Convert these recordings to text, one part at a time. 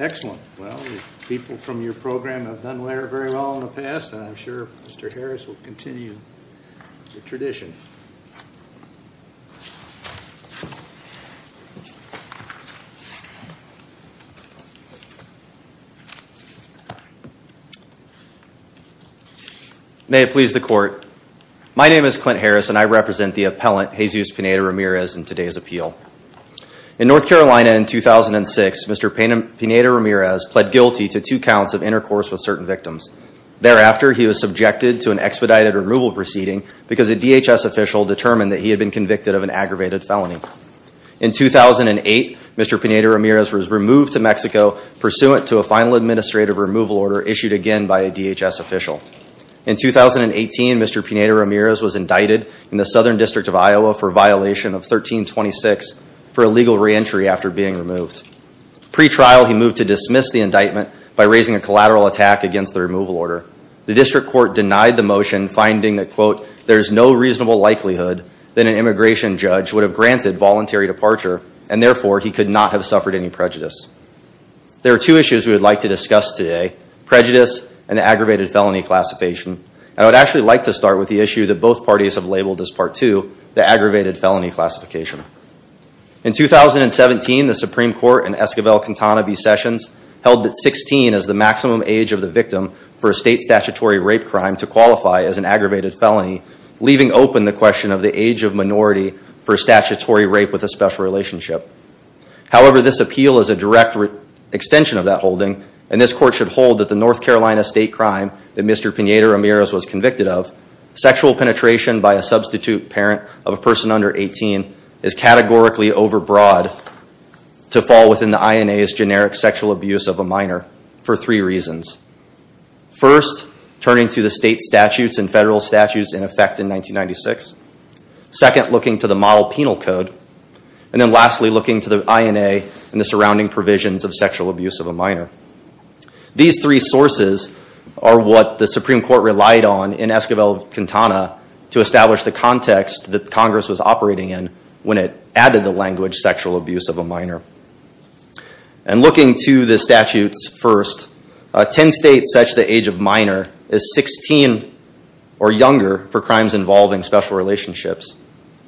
Excellent. Well, the people from your program have done well in the past and I'm sure Mr. Harris will continue the tradition. May it please the court. My name is Clint Harris and I represent the appellant Jesus Pineda Ramirez in today's appeal. In North Carolina in 2006, Mr. Pineda Ramirez pled guilty to two counts of intercourse with certain victims. Thereafter, he was subjected to an expedited removal proceeding because a DHS official determined that he had been convicted of an aggravated felony. In 2008, Mr. Pineda Ramirez was removed to Mexico pursuant to a final administrative removal order issued again by a DHS official. In 2018, Mr. Pineda Ramirez was indicted in the Southern District of Iowa for violation of 1326 for illegal reentry after being removed. Pre-trial, he moved to dismiss the indictment by raising a collateral attack against the removal order. The district court denied the motion finding that quote, there's no reasonable likelihood that an immigration judge would have granted voluntary departure and therefore he could not have suffered any prejudice. There are two issues we would like to discuss today, prejudice and aggravated felony classification. I would actually like to start with the issue that both parties have labeled as part two, the aggravated felony classification. In 2017, the Supreme Court in Esquivel-Cantana v. Sessions held that 16 is the maximum age of the victim for a state statutory rape crime to qualify as an aggravated felony, leaving open the question of the age of minority for statutory rape with a special relationship. However, this appeal is a direct extension of that holding, and this court should hold that the North Carolina state crime that Mr. Pineda Ramirez was convicted of, sexual penetration by a substitute parent of a person under 18 is categorically overbroad to fall within the INA's generic sexual abuse of a minor for three reasons. First, turning to the state statutes and federal statutes in effect in 1996. Second, looking to the model penal code. And then lastly, looking to the INA and the surrounding provisions of sexual abuse of a minor. These three sources are what the Supreme Court relied on in Esquivel-Cantana to establish the context that Congress was operating in when it added the language sexual abuse of a minor. And looking to the statutes first, 10 states set the age of minor as 16 or younger for crimes involving special relationships.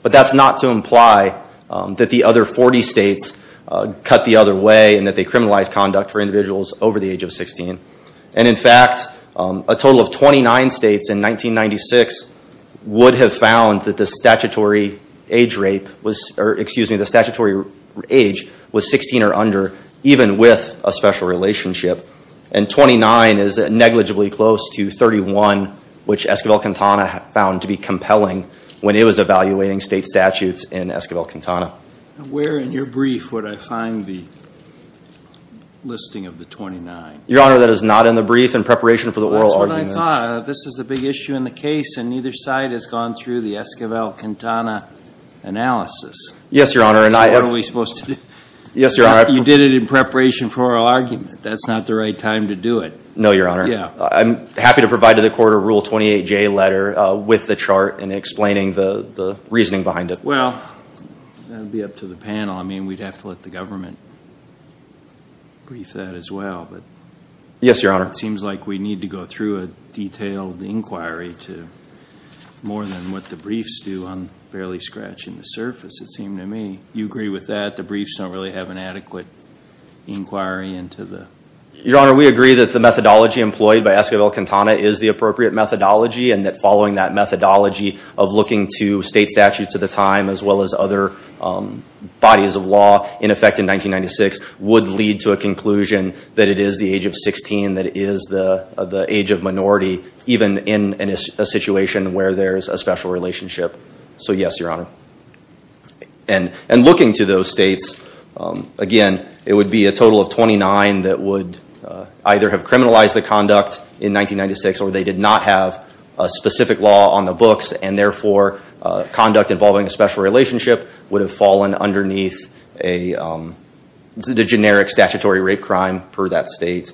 But that's not to imply that the other 40 states cut the other way and that they criminalized conduct for individuals over the age of 16. And in fact, a total of 29 states in 1996 would have found that the statutory age was 16 or under, even with a special relationship. And 29 is negligibly close to 31, which Esquivel-Cantana found to be compelling when it was evaluating state statutes in Esquivel-Cantana. Where in your brief would I find the listing of the 29? Your Honor, that is not in the brief in preparation for the oral arguments. That's what I thought. This is the big issue in the case and neither side has gone through the Esquivel-Cantana analysis. Yes, Your Honor. Yes, Your Honor. You did it in preparation for oral argument. That's not the right time to do it. No, Your Honor. I'm happy to provide to the court a Rule 28J letter with the chart and explaining the reasoning behind it. Well, that would be up to the panel. I mean, we'd have to let the government brief that as well. Yes, Your Honor. It seems like we need to go through a detailed inquiry to more than what the briefs do on barely scratching the surface, it seemed to me. Do you agree with that? The briefs don't really have an adequate inquiry into the... Your Honor, we agree that the methodology employed by Esquivel-Cantana is the appropriate methodology and that following that methodology of looking to state statutes at the time as well as other bodies of law in effect in 1996 would lead to a conclusion that it is the age of 16 that is the age of minority even in a situation where there's a special relationship. So, yes, Your Honor. And looking to those states, again, it would be a total of 29 that would either have criminalized the conduct in 1996 or they did not have a specific law on the books and therefore conduct involving a special relationship would have fallen underneath the generic statutory rape crime per that state.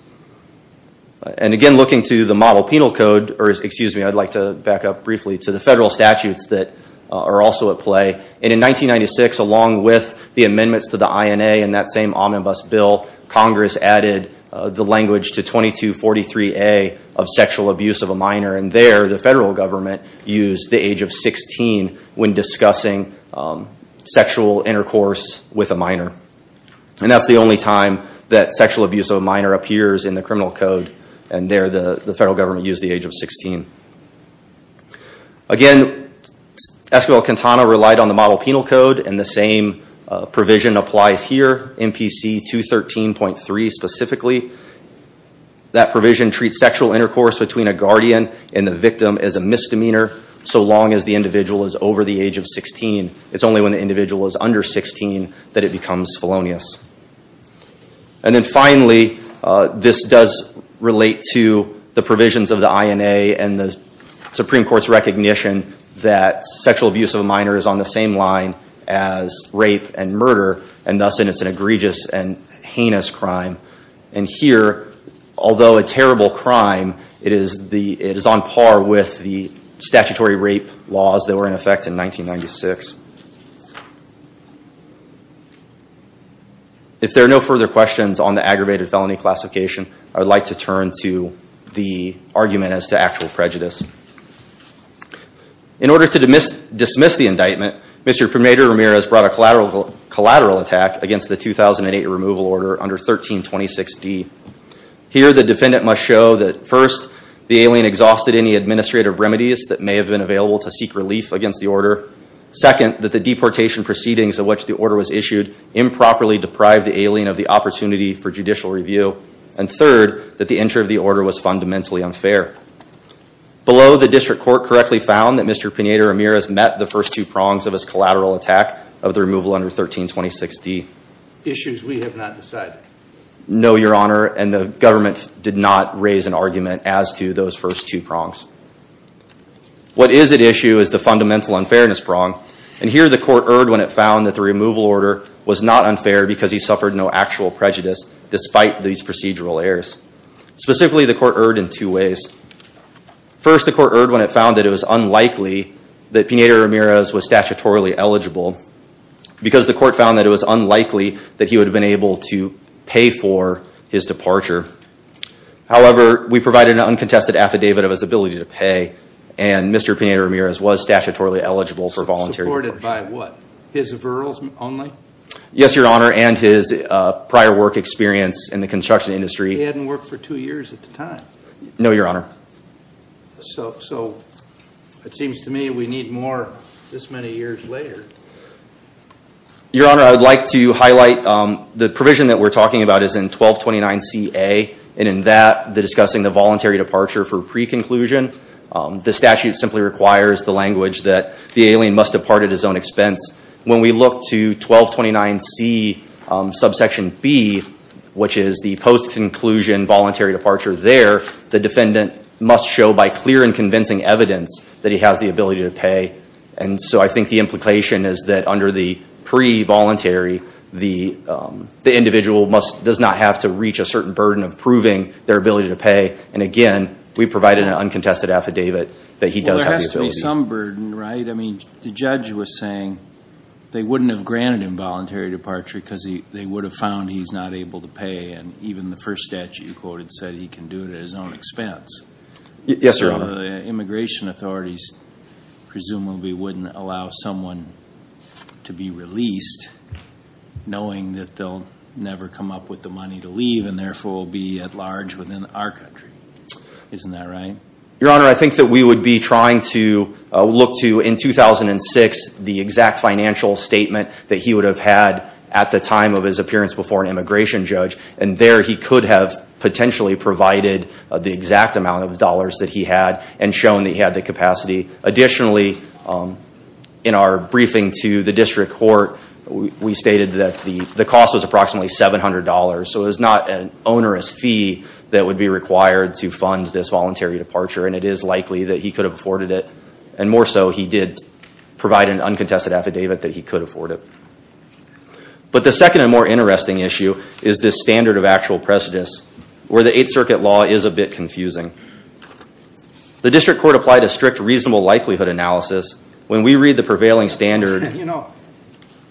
And again, looking to the model penal code, or excuse me, I'd like to back up briefly to the federal statutes that are also at play. And in 1996, along with the amendments to the INA and that same omnibus bill, Congress added the language to 2243A of sexual abuse of a minor and there the federal government used the age of 16 when discussing sexual intercourse with a minor. And that's the only time that sexual abuse of a minor appears in the criminal code and there the federal government used the age of 16. Again, Esquivel-Quintana relied on the model penal code and the same provision applies here, MPC 213.3 specifically. That provision treats sexual intercourse between a guardian and the victim as a misdemeanor so long as the individual is over the age of 16. It's only when the individual is under 16 that it becomes felonious. And then finally, this does relate to the provisions of the INA and the Supreme Court's recognition that sexual abuse of a minor is on the same line as rape and murder and thus it is an egregious and heinous crime. And here, although a terrible crime, it is on par with the statutory rape laws that were in effect in 1996. If there are no further questions on the aggravated felony classification, I would like to turn to the argument as to actual prejudice. In order to dismiss the indictment, Mr. Primadero-Ramirez brought a collateral attack against the 2008 removal order under 1326D. Here, the defendant must show that first, the alien exhausted any administrative remedies Second, that the deportation proceedings of which the order was issued improperly deprived the alien of the opportunity for judicial review. And third, that the entry of the order was fundamentally unfair. Below, the district court correctly found that Mr. Primadero-Ramirez met the first two prongs of his collateral attack of the removal under 1326D. Issues we have not decided. No, Your Honor, and the government did not raise an argument as to those first two prongs. What is at issue is the fundamental unfairness prong. And here, the court erred when it found that the removal order was not unfair because he suffered no actual prejudice despite these procedural errors. Specifically, the court erred in two ways. First, the court erred when it found that it was unlikely that Primadero-Ramirez was statutorily eligible because the court found that it was unlikely that he would have been able to pay for his departure. However, we provided an uncontested affidavit of his ability to pay and Mr. Primadero-Ramirez was statutorily eligible for voluntary abortion. Supported by what? His virals only? Yes, Your Honor, and his prior work experience in the construction industry. He hadn't worked for two years at the time. No, Your Honor. So, it seems to me we need more this many years later. Your Honor, I would like to highlight the provision that we're talking about is in 1229C-A and in that, discussing the voluntary departure for pre-conclusion. The statute simply requires the language that the alien must depart at his own expense. When we look to 1229C-B, which is the post-conclusion voluntary departure there, the defendant must show by clear and convincing evidence that he has the ability to pay. And so, I think the implication is that under the pre-voluntary, the individual does not have to reach a certain burden of proving their ability to pay. And again, we provided an uncontested affidavit that he does have the ability. Well, there has to be some burden, right? I mean, the judge was saying they wouldn't have granted him voluntary departure because they would have found he's not able to pay and even the first statute you quoted said he can do it at his own expense. Yes, Your Honor. Immigration authorities presumably wouldn't allow someone to be released knowing that they'll never come up with the money to leave and therefore will be at large within our country. Isn't that right? Your Honor, I think that we would be trying to look to, in 2006, the exact financial statement that he would have had at the time of his appearance before an immigration judge. And there, he could have potentially provided the exact amount of dollars that he had and shown that he had the capacity. Additionally, in our briefing to the district court, we stated that the cost was approximately $700. So, it was not an onerous fee that would be required to fund this voluntary departure and it is likely that he could have afforded it. And more so, he did provide an uncontested affidavit that he could afford it. But the second and more interesting issue is this standard of actual prejudice where the Eighth Circuit law is a bit confusing. The district court applied a strict reasonable likelihood analysis. When we read the prevailing standard... You know,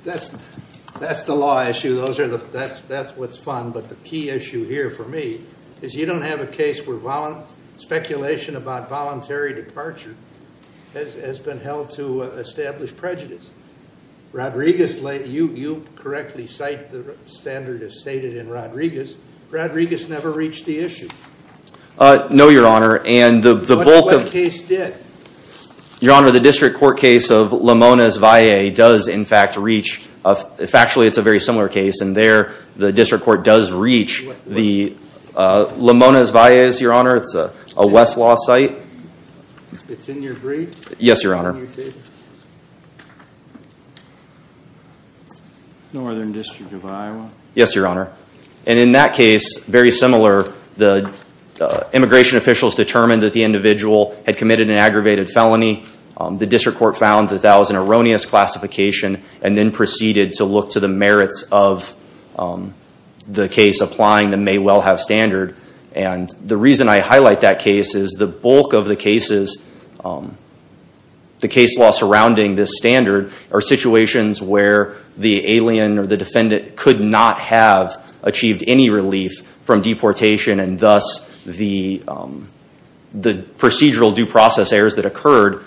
that's the law issue. That's what's fun. But the key issue here for me is you don't have a case where speculation about voluntary departure has been held to establish prejudice. Rodriguez, you correctly cite the standard as stated in Rodriguez. Rodriguez never reached the issue. No, Your Honor. What case did? Your Honor, the district court case of Lamona's Valley does in fact reach... Factually, it's a very similar case. And there, the district court does reach the Lamona's Valley, Your Honor. It's a Westlaw site. It's in your brief? Yes, Your Honor. Northern District of Iowa. Yes, Your Honor. And in that case, very similar, the immigration officials determined that the individual had committed an aggravated felony. The district court found that that was an erroneous classification and then proceeded to look to the merits of the case applying the may well have standard. And the reason I highlight that case is the bulk of the cases, the case law surrounding this standard are situations where the alien or the defendant could not have achieved any relief from deportation and thus the procedural due process errors that occurred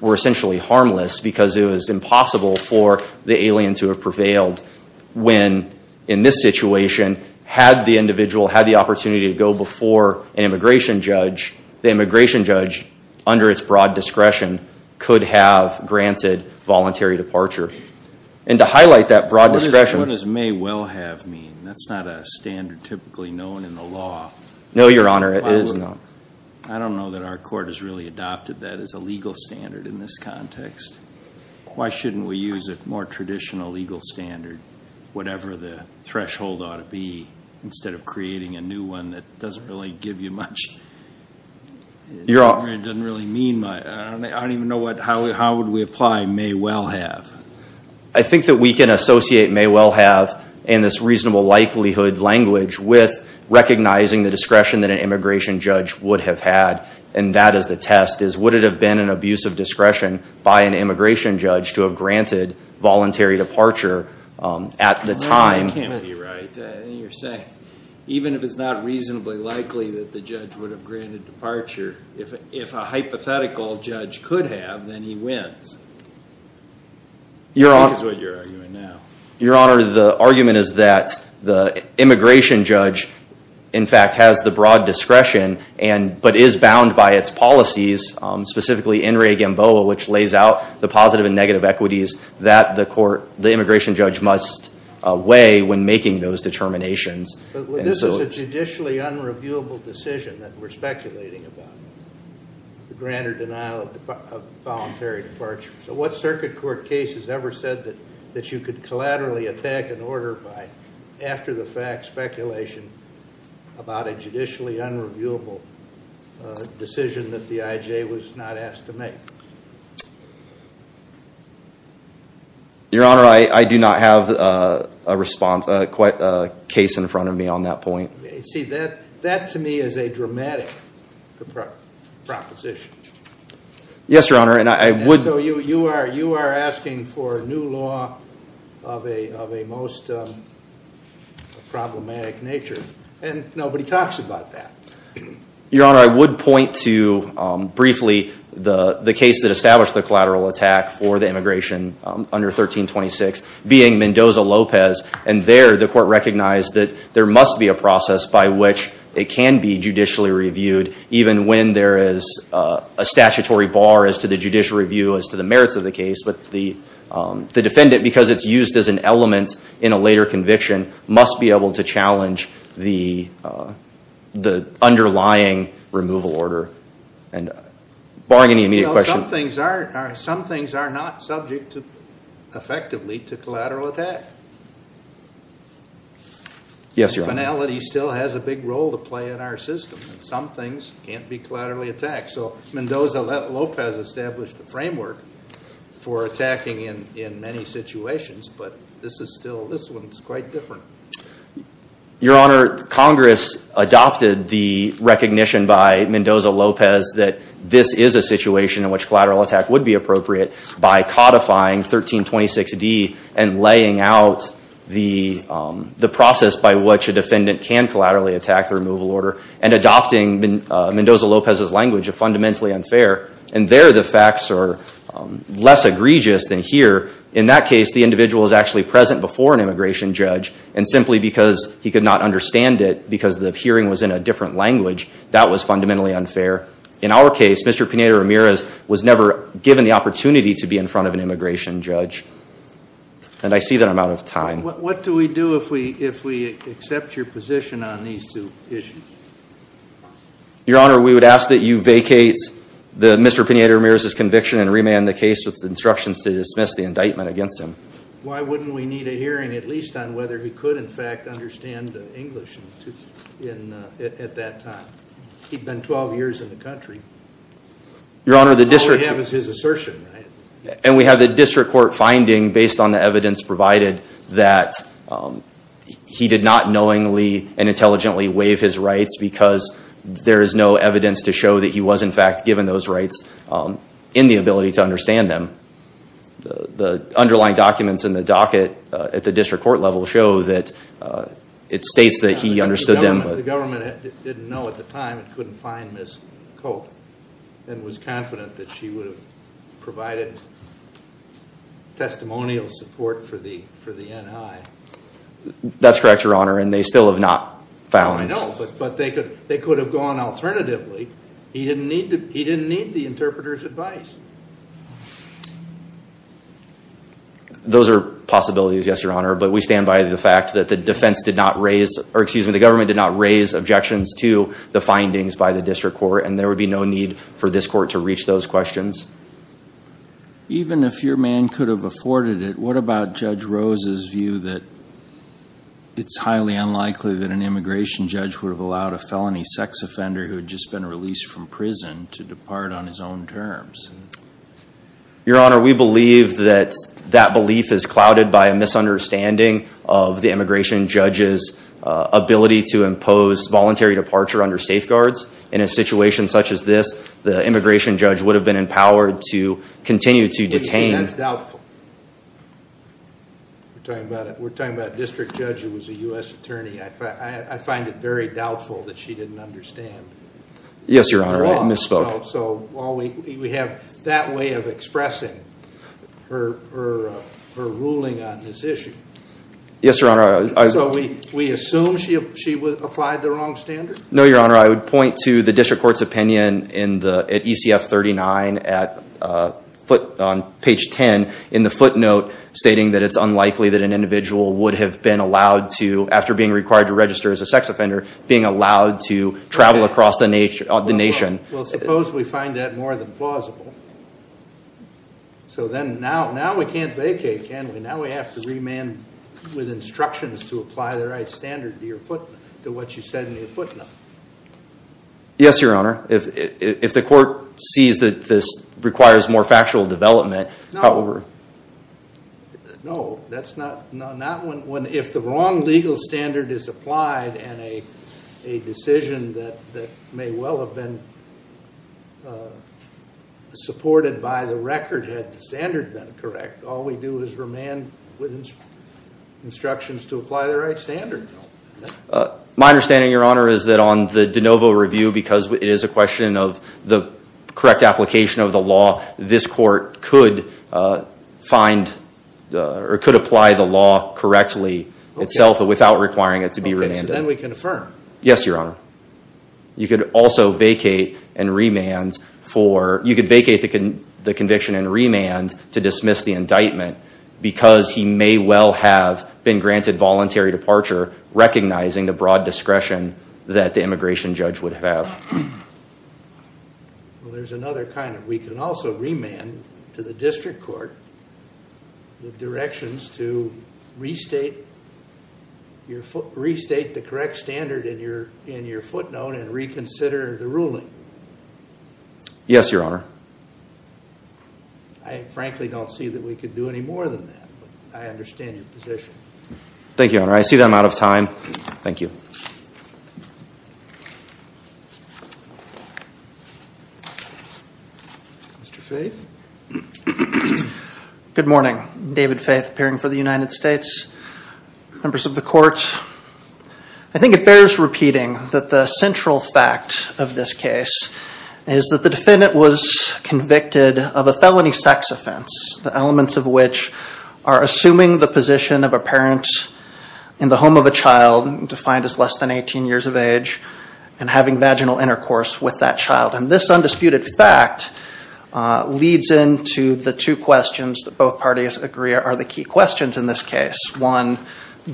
were essentially harmless because it was impossible for the alien to have prevailed. When in this situation, had the individual had the opportunity to go before an immigration judge, the immigration judge, under its broad discretion, could have granted voluntary departure. And to highlight that broad discretion... What does may well have mean? That's not a standard typically known in the law. No, Your Honor, it is not. I don't know that our court has really adopted that as a legal standard in this context. Why shouldn't we use a more traditional legal standard, whatever the threshold ought to be, instead of creating a new one that doesn't really give you much? It doesn't really mean much. I don't even know how would we apply may well have. I think that we can associate may well have in this reasonable likelihood language with recognizing the discretion that an immigration judge would have had, and that is the test, is would it have been an abuse of discretion by an immigration judge to have granted voluntary departure at the time. That can't be right. You're saying even if it's not reasonably likely that the judge would have granted departure, if a hypothetical judge could have, then he wins. That is what you're arguing now. Your Honor, the argument is that the immigration judge, in fact, has the broad discretion, but is bound by its policies, specifically in re Gamboa, which lays out the positive and negative equities that the immigration judge must weigh when making those determinations. This is a judicially unreviewable decision that we're speculating about, the grant or denial of voluntary departure. So what circuit court case has ever said that you could collaterally attack an order by, after the fact, speculation about a judicially unreviewable decision that the IJ was not asked to make? Your Honor, I do not have a response, quite a case in front of me on that point. See, that to me is a dramatic proposition. Yes, Your Honor, and I would. So you are asking for a new law of a most problematic nature, and nobody talks about that. Your Honor, I would point to, briefly, the case that established the collateral attack for the immigration under 1326, being Mendoza-Lopez, and there the court recognized that there must be a process by which it can be judicially reviewed, even when there is a statutory bar as to the judicial review as to the merits of the case. But the defendant, because it's used as an element in a later conviction, must be able to challenge the underlying removal order. And barring any immediate question. Some things are not subject, effectively, to collateral attack. Yes, Your Honor. Finality still has a big role to play in our system, and some things can't be collaterally attacked. So Mendoza-Lopez established a framework for attacking in many situations, but this one is quite different. Your Honor, Congress adopted the recognition by Mendoza-Lopez that this is a situation in which collateral attack would be appropriate by codifying 1326D and laying out the process by which a defendant can collaterally attack the removal order, and adopting Mendoza-Lopez's language of fundamentally unfair. And there the facts are less egregious than here. In that case, the individual is actually present before an immigration judge, and simply because he could not understand it because the hearing was in a different language, that was fundamentally unfair. In our case, Mr. Pineda-Ramirez was never given the opportunity to be in front of an immigration judge. And I see that I'm out of time. What do we do if we accept your position on these two issues? Your Honor, we would ask that you vacate Mr. Pineda-Ramirez's conviction and remand the case with instructions to dismiss the indictment against him. Why wouldn't we need a hearing at least on whether he could in fact understand English at that time? He'd been 12 years in the country. All we have is his assertion, right? And we have the district court finding, based on the evidence provided, that he did not knowingly and intelligently waive his rights because there is no evidence to show that he was in fact given those rights in the ability to understand them. The underlying documents in the docket at the district court level show that it states that he understood them. The government didn't know at the time and couldn't find Ms. Cope and was confident that she would have provided testimonial support for the N.I. That's correct, Your Honor, and they still have not found him. I know, but they could have gone alternatively. He didn't need the interpreter's advice. Those are possibilities, yes, Your Honor, but we stand by the fact that the government did not raise objections to the findings by the district court and there would be no need for this court to reach those questions. Even if your man could have afforded it, what about Judge Rose's view that it's highly unlikely that an immigration judge would have allowed a felony sex offender who had just been released from prison to depart on his own terms? Your Honor, we believe that that belief is clouded by a misunderstanding of the immigration judge's ability to impose voluntary departure under safeguards. In a situation such as this, the immigration judge would have been empowered to continue to detain. That's doubtful. We're talking about a district judge who was a U.S. attorney. I find it very doubtful that she didn't understand the law. Yes, Your Honor, I misspoke. We have that way of expressing her ruling on this issue. Yes, Your Honor. So we assume she applied the wrong standard? No, Your Honor, I would point to the district court's opinion at ECF 39 on page 10 in the footnote stating that it's unlikely that an individual would have been allowed to, after being required to register as a sex offender, being allowed to travel across the nation. Well, suppose we find that more than plausible. Now we have to remand with instructions to apply the right standard to what you said in your footnote. Yes, Your Honor. If the court sees that this requires more factual development, however. No, if the wrong legal standard is applied and a decision that may well have been supported by the record had the standard been correct, all we do is remand with instructions to apply the right standard. My understanding, Your Honor, is that on the de novo review, because it is a question of the correct application of the law, this court could apply the law correctly itself without requiring it to be remanded. Okay, so then we confirm. Yes, Your Honor. You could also vacate and remand for, you could vacate the conviction and remand to dismiss the indictment because he may well have been granted voluntary departure recognizing the broad discretion that the immigration judge would have. Well, there's another kind of, we can also remand to the district court with directions to restate the correct standard in your footnote and reconsider the ruling. Yes, Your Honor. I frankly don't see that we could do any more than that, but I understand your position. Thank you, Your Honor. I see that I'm out of time. Thank you. Mr. Faith. Good morning. David Faith, appearing for the United States. Members of the court, I think it bears repeating that the central fact of this case is that the defendant was convicted of a felony sex offense, the elements of which are assuming the position of a parent in the home of a child, defined as less than 18 years of age, and having vaginal intercourse with that child. And this undisputed fact leads into the two questions that both parties agree are the key questions in this case. One,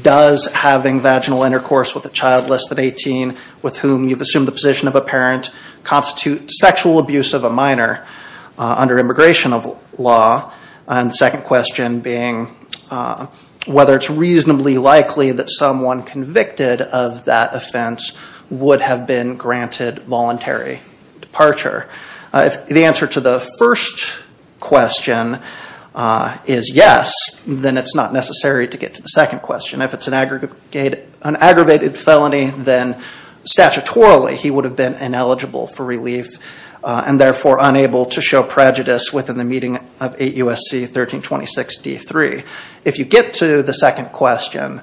does having vaginal intercourse with a child less than 18 with whom you've assumed the position of a parent constitute sexual abuse of a minor under immigration law? And the second question being, whether it's reasonably likely that someone convicted of that offense would have been granted voluntary departure. If the answer to the first question is yes, then it's not necessary to get to the second question. If it's an aggravated felony, then statutorily he would have been ineligible for relief and therefore unable to show prejudice within the meeting of 8 U.S.C. 1326 D.3. If you get to the second question,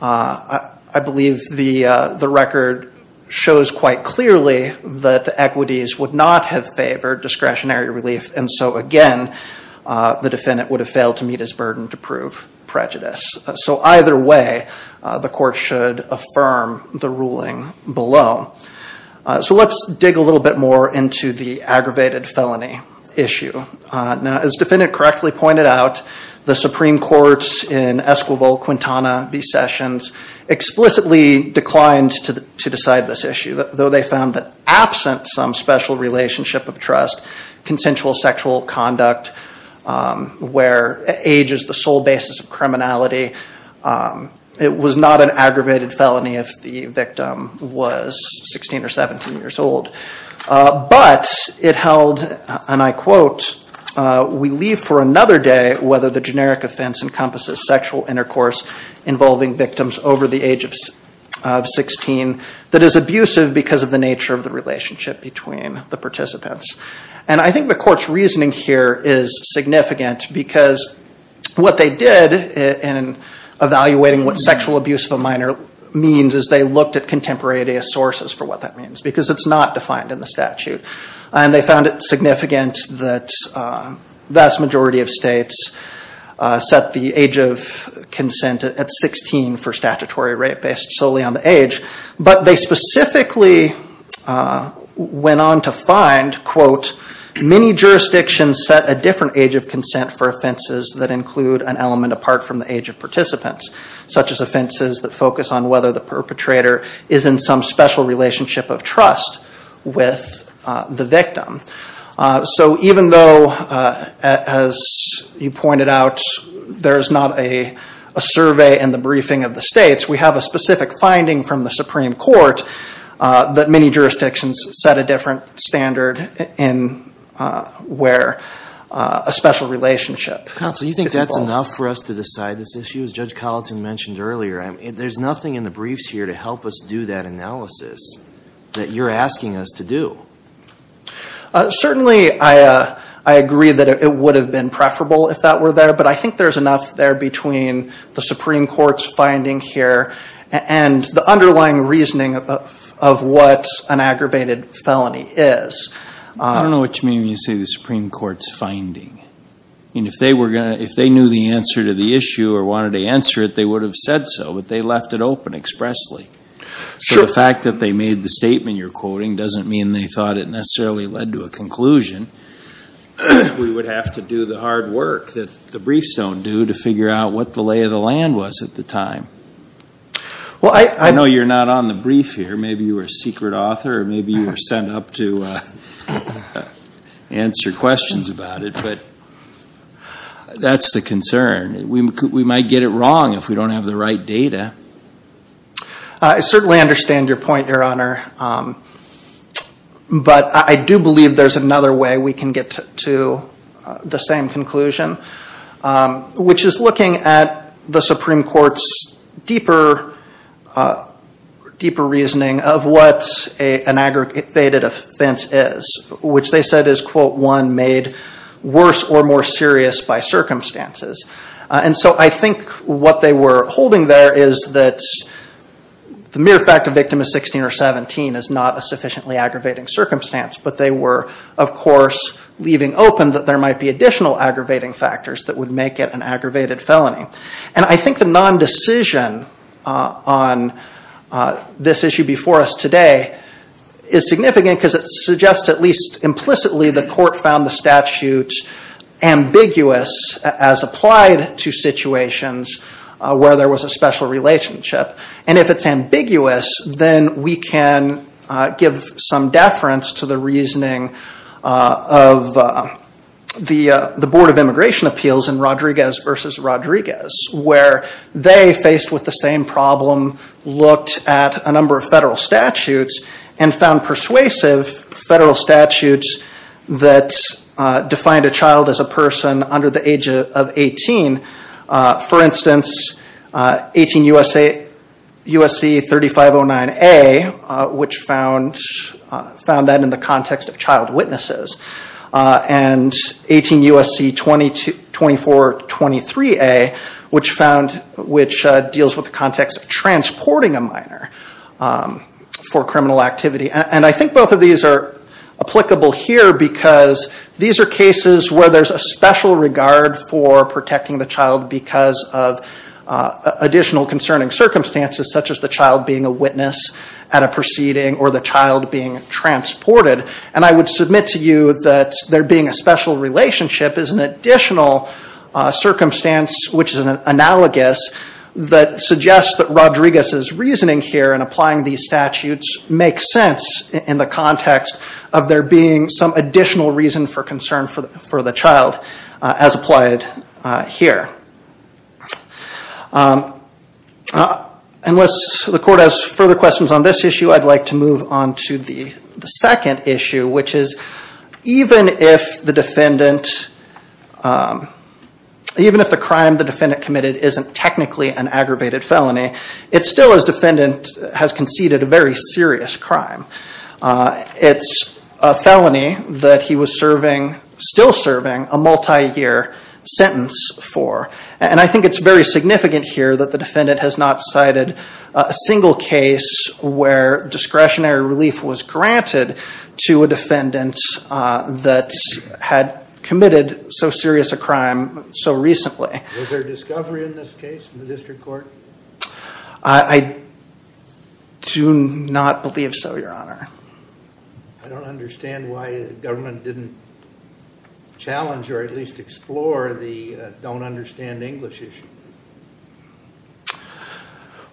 I believe the record shows quite clearly that the equities would not have favored discretionary relief, and so again, the defendant would have failed to meet his burden to prove prejudice. So either way, the court should affirm the ruling below. So let's dig a little bit more into the aggravated felony issue. As the defendant correctly pointed out, the Supreme Court in Esquivel, Quintana v. Sessions explicitly declined to decide this issue, though they found that absent some special relationship of trust, consensual sexual conduct, where age is the sole basis of criminality, it was not an aggravated felony if the victim was 16 or 17 years old. But it held, and I quote, we leave for another day whether the generic offense encompasses sexual intercourse involving victims over the age of 16 that is abusive because of the nature of the relationship between the participants. And I think the court's reasoning here is significant because what they did in evaluating what sexual abuse of a minor means is they looked at contemporaneous sources for what that means, because it's not defined in the statute. And they found it significant that the vast majority of states set the age of consent at 16 for statutory rape based solely on the age, but they specifically went on to find, quote, many jurisdictions set a different age of consent for offenses that include an element apart from the age of participants, such as offenses that focus on whether the perpetrator is in some special relationship of trust with the victim. So even though, as you pointed out, there is not a survey in the briefing of the states, we have a specific finding from the Supreme Court that many jurisdictions set a different standard in where a special relationship. Counsel, you think that's enough for us to decide this issue? As Judge Colleton mentioned earlier, there's nothing in the briefs here to help us do that analysis that you're asking us to do. Certainly, I agree that it would have been preferable if that were there, but I think there's enough there between the Supreme Court's finding here and the underlying reasoning of what an aggravated felony is. I don't know what you mean when you say the Supreme Court's finding. I mean, if they knew the answer to the issue or wanted to answer it, they would have said so, but they left it open expressly. So the fact that they made the statement you're quoting doesn't mean they thought it necessarily led to a conclusion. We would have to do the hard work that the briefs don't do to figure out what the lay of the land was at the time. I know you're not on the brief here. Maybe you were a secret author or maybe you were sent up to answer questions about it, but that's the concern. We might get it wrong if we don't have the right data. I certainly understand your point, Your Honor, but I do believe there's another way we can get to the same conclusion, which is looking at the Supreme Court's deeper reasoning of what an aggravated offense is, which they said is, quote, one made worse or more serious by circumstances. And so I think what they were holding there is that the mere fact a victim is 16 or 17 is not a sufficiently aggravating circumstance, but they were, of course, leaving open that there might be additional aggravating factors that would make it an aggravated felony. And I think the non-decision on this issue before us today is significant because it suggests at least implicitly the court found the statute ambiguous as applied to situations where there was a special relationship. And if it's ambiguous, then we can give some deference to the reasoning of the Board of Immigration Appeals in Rodriguez v. Rodriguez, where they, faced with the same problem, looked at a number of federal statutes and found persuasive federal statutes that defined a child as a person under the age of 18. For instance, 18 U.S.C. 3509A, which found that in the context of child witnesses, and 18 U.S.C. 2423A, which deals with the context of transporting a minor for criminal activity. And I think both of these are applicable here because these are cases where there's a special regard for protecting the child because of additional concerning circumstances, such as the child being a witness at a proceeding or the child being transported. And I would submit to you that there being a special relationship is an additional circumstance, which is analogous, that suggests that Rodriguez's reasoning here in applying these statutes makes sense in the context of there being some additional reason for concern for the child, as applied here. Unless the court has further questions on this issue, I'd like to move on to the second issue, which is even if the defendant, even if the crime the defendant committed isn't technically an aggravated felony, it still, as defendant, has conceded a very serious crime. It's a felony that he was serving, still serving, a multi-year sentence for. And I think it's very significant here that the defendant has not cited a single case where discretionary relief was granted to a defendant that had committed so serious a crime so recently. Was there discovery in this case in the district court? I do not believe so, Your Honor. I don't understand why the government didn't challenge or at least explore the don't understand English issue.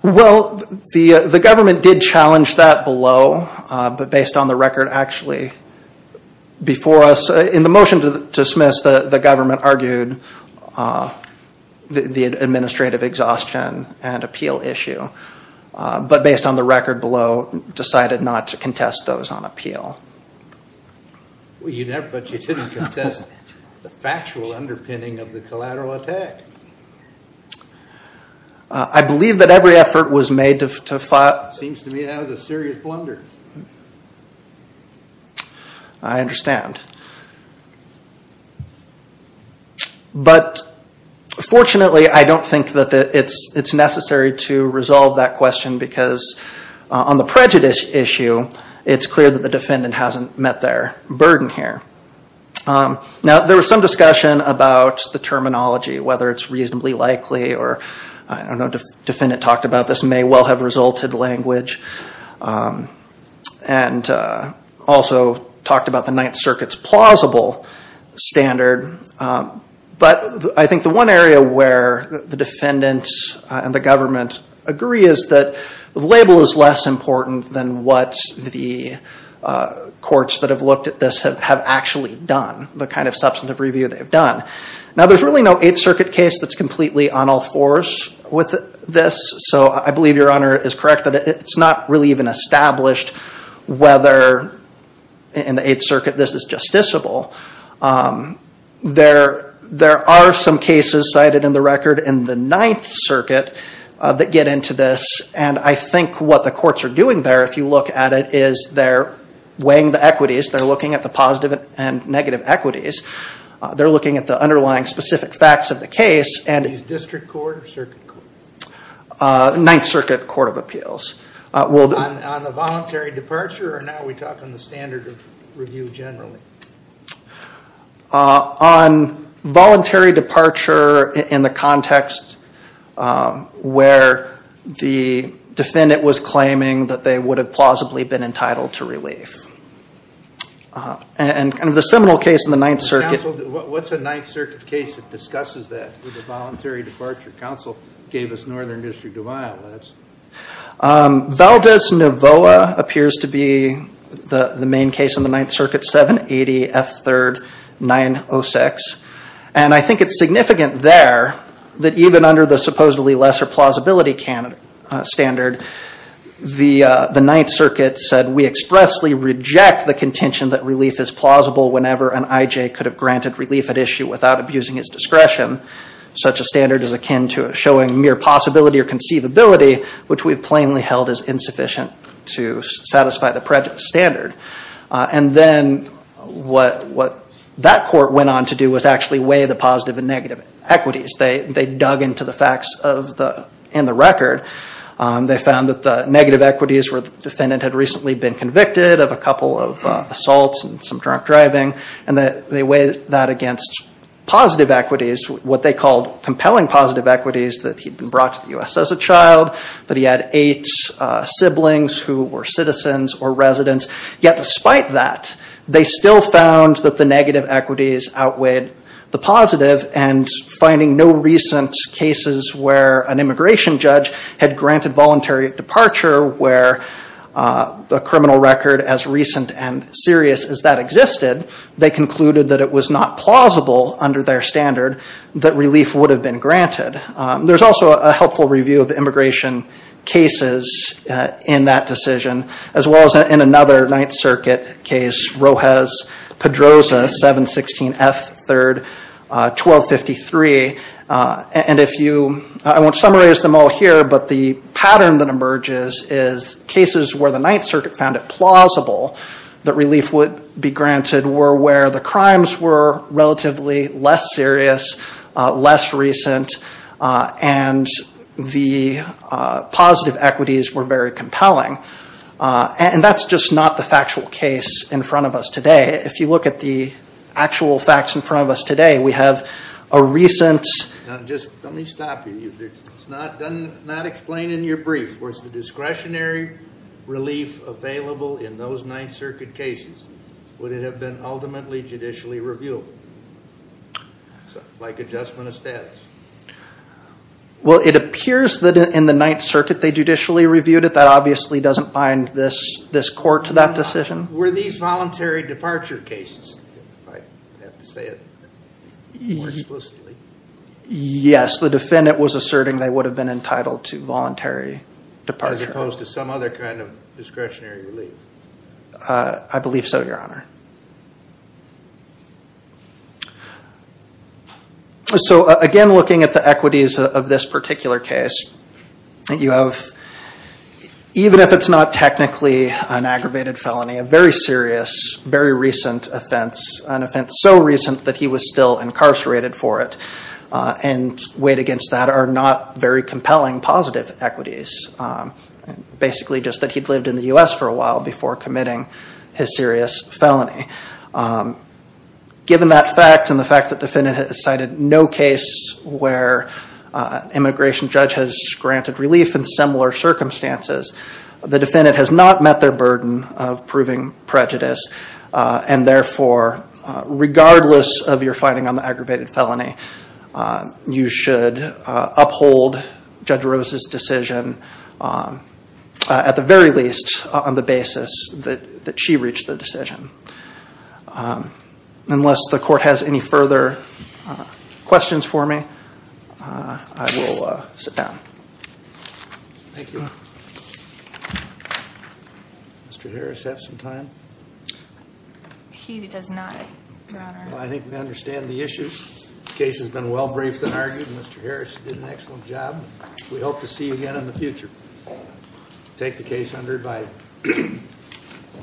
Well, the government did challenge that below, but based on the record actually before us, in the motion to dismiss, the government argued the administrative exhaustion and appeal issue. But based on the record below, decided not to contest those on appeal. But you didn't contest the factual underpinning of the collateral attack. I believe that every effort was made to... Seems to me that was a serious blunder. I understand. But fortunately, I don't think that it's necessary to resolve that question, because on the prejudice issue, it's clear that the defendant hasn't met their burden here. Now, there was some discussion about the terminology, whether it's reasonably likely, or I don't know if the defendant talked about this, may well have resulted language. And also talked about the Ninth Circuit's plausible standard. But I think the one area where the defendant and the government agree is that the label is less important than what the courts that have looked at this have actually done, the kind of substantive review they've done. Now, there's really no Eighth Circuit case that's completely on all fours with this. So I believe Your Honor is correct that it's not really even established whether, in the Eighth Circuit, this is justiciable. There are some cases cited in the record in the Ninth Circuit that get into this. And I think what the courts are doing there, if you look at it, is they're weighing the equities. They're looking at the positive and negative equities. They're looking at the underlying specific facts of the case. Is it District Court or Circuit Court? Ninth Circuit Court of Appeals. On the voluntary departure, or now we talk on the standard of review generally? On voluntary departure in the context where the defendant was claiming that they would have plausibly been entitled to relief. And the seminal case in the Ninth Circuit... Counsel, what's a Ninth Circuit case that discusses that with a voluntary departure? Counsel gave us Northern District of Iowa. Valdez-Nevoa appears to be the main case in the Ninth Circuit, 780 F. 3rd 906. And I think it's significant there that even under the supposedly lesser plausibility standard, the Ninth Circuit said we expressly reject the contention that relief is plausible whenever an I.J. could have granted relief at issue without abusing his discretion. Such a standard is akin to showing mere possibility or conceivability, which we've plainly held as insufficient to satisfy the standard. And then what that court went on to do was actually weigh the positive and negative equities. They dug into the facts in the record. They found that the negative equities where the defendant had recently been convicted of a couple of assaults and some drunk driving, and they weighed that against positive equities, what they called compelling positive equities, that he'd been brought to the U.S. as a child, that he had eight siblings who were citizens or residents. Yet despite that, they still found that the negative equities outweighed the positive and finding no recent cases where an immigration judge had granted voluntary departure where the criminal record as recent and serious as that existed, they concluded that it was not plausible under their standard that relief would have been granted. There's also a helpful review of immigration cases in that decision, as well as in another Ninth Circuit case, Rojas-Pedroza, 716 F. 3rd, 1253. And if you, I won't summarize them all here, but the pattern that emerges is cases where the Ninth Circuit found it plausible that relief would be granted were where the crimes were relatively less serious, less recent, and the positive equities were very compelling. And that's just not the factual case in front of us today. If you look at the actual facts in front of us today, we have a recent… Now just let me stop you. It's not explained in your brief. Was the discretionary relief available in those Ninth Circuit cases? Would it have been ultimately judicially reviewable? Like adjustment of status. Well, it appears that in the Ninth Circuit they judicially reviewed it. That obviously doesn't bind this court to that decision. Were these voluntary departure cases, if I have to say it more explicitly? Yes, the defendant was asserting they would have been entitled to voluntary departure. As opposed to some other kind of discretionary relief. I believe so, Your Honor. So again, looking at the equities of this particular case, you have, even if it's not technically an aggravated felony, a very serious, very recent offense, an offense so recent that he was still incarcerated for it, and weighed against that are not very compelling positive equities. Basically just that he'd lived in the U.S. for a while before committing his serious felony. Given that fact, and the fact that the defendant has cited no case where an immigration judge has granted relief in similar circumstances, the defendant has not met their burden of proving prejudice, and therefore, regardless of your finding on the aggravated felony, you should uphold Judge Rose's decision, at the very least, on the basis that she reached the decision. Unless the court has any further questions for me, I will sit down. Thank you. Mr. Harris, do you have some time? He does not, Your Honor. Well, I think we understand the issues. The case has been well briefed and argued. Mr. Harris did an excellent job. We hope to see you again in the future. Take the case under advice.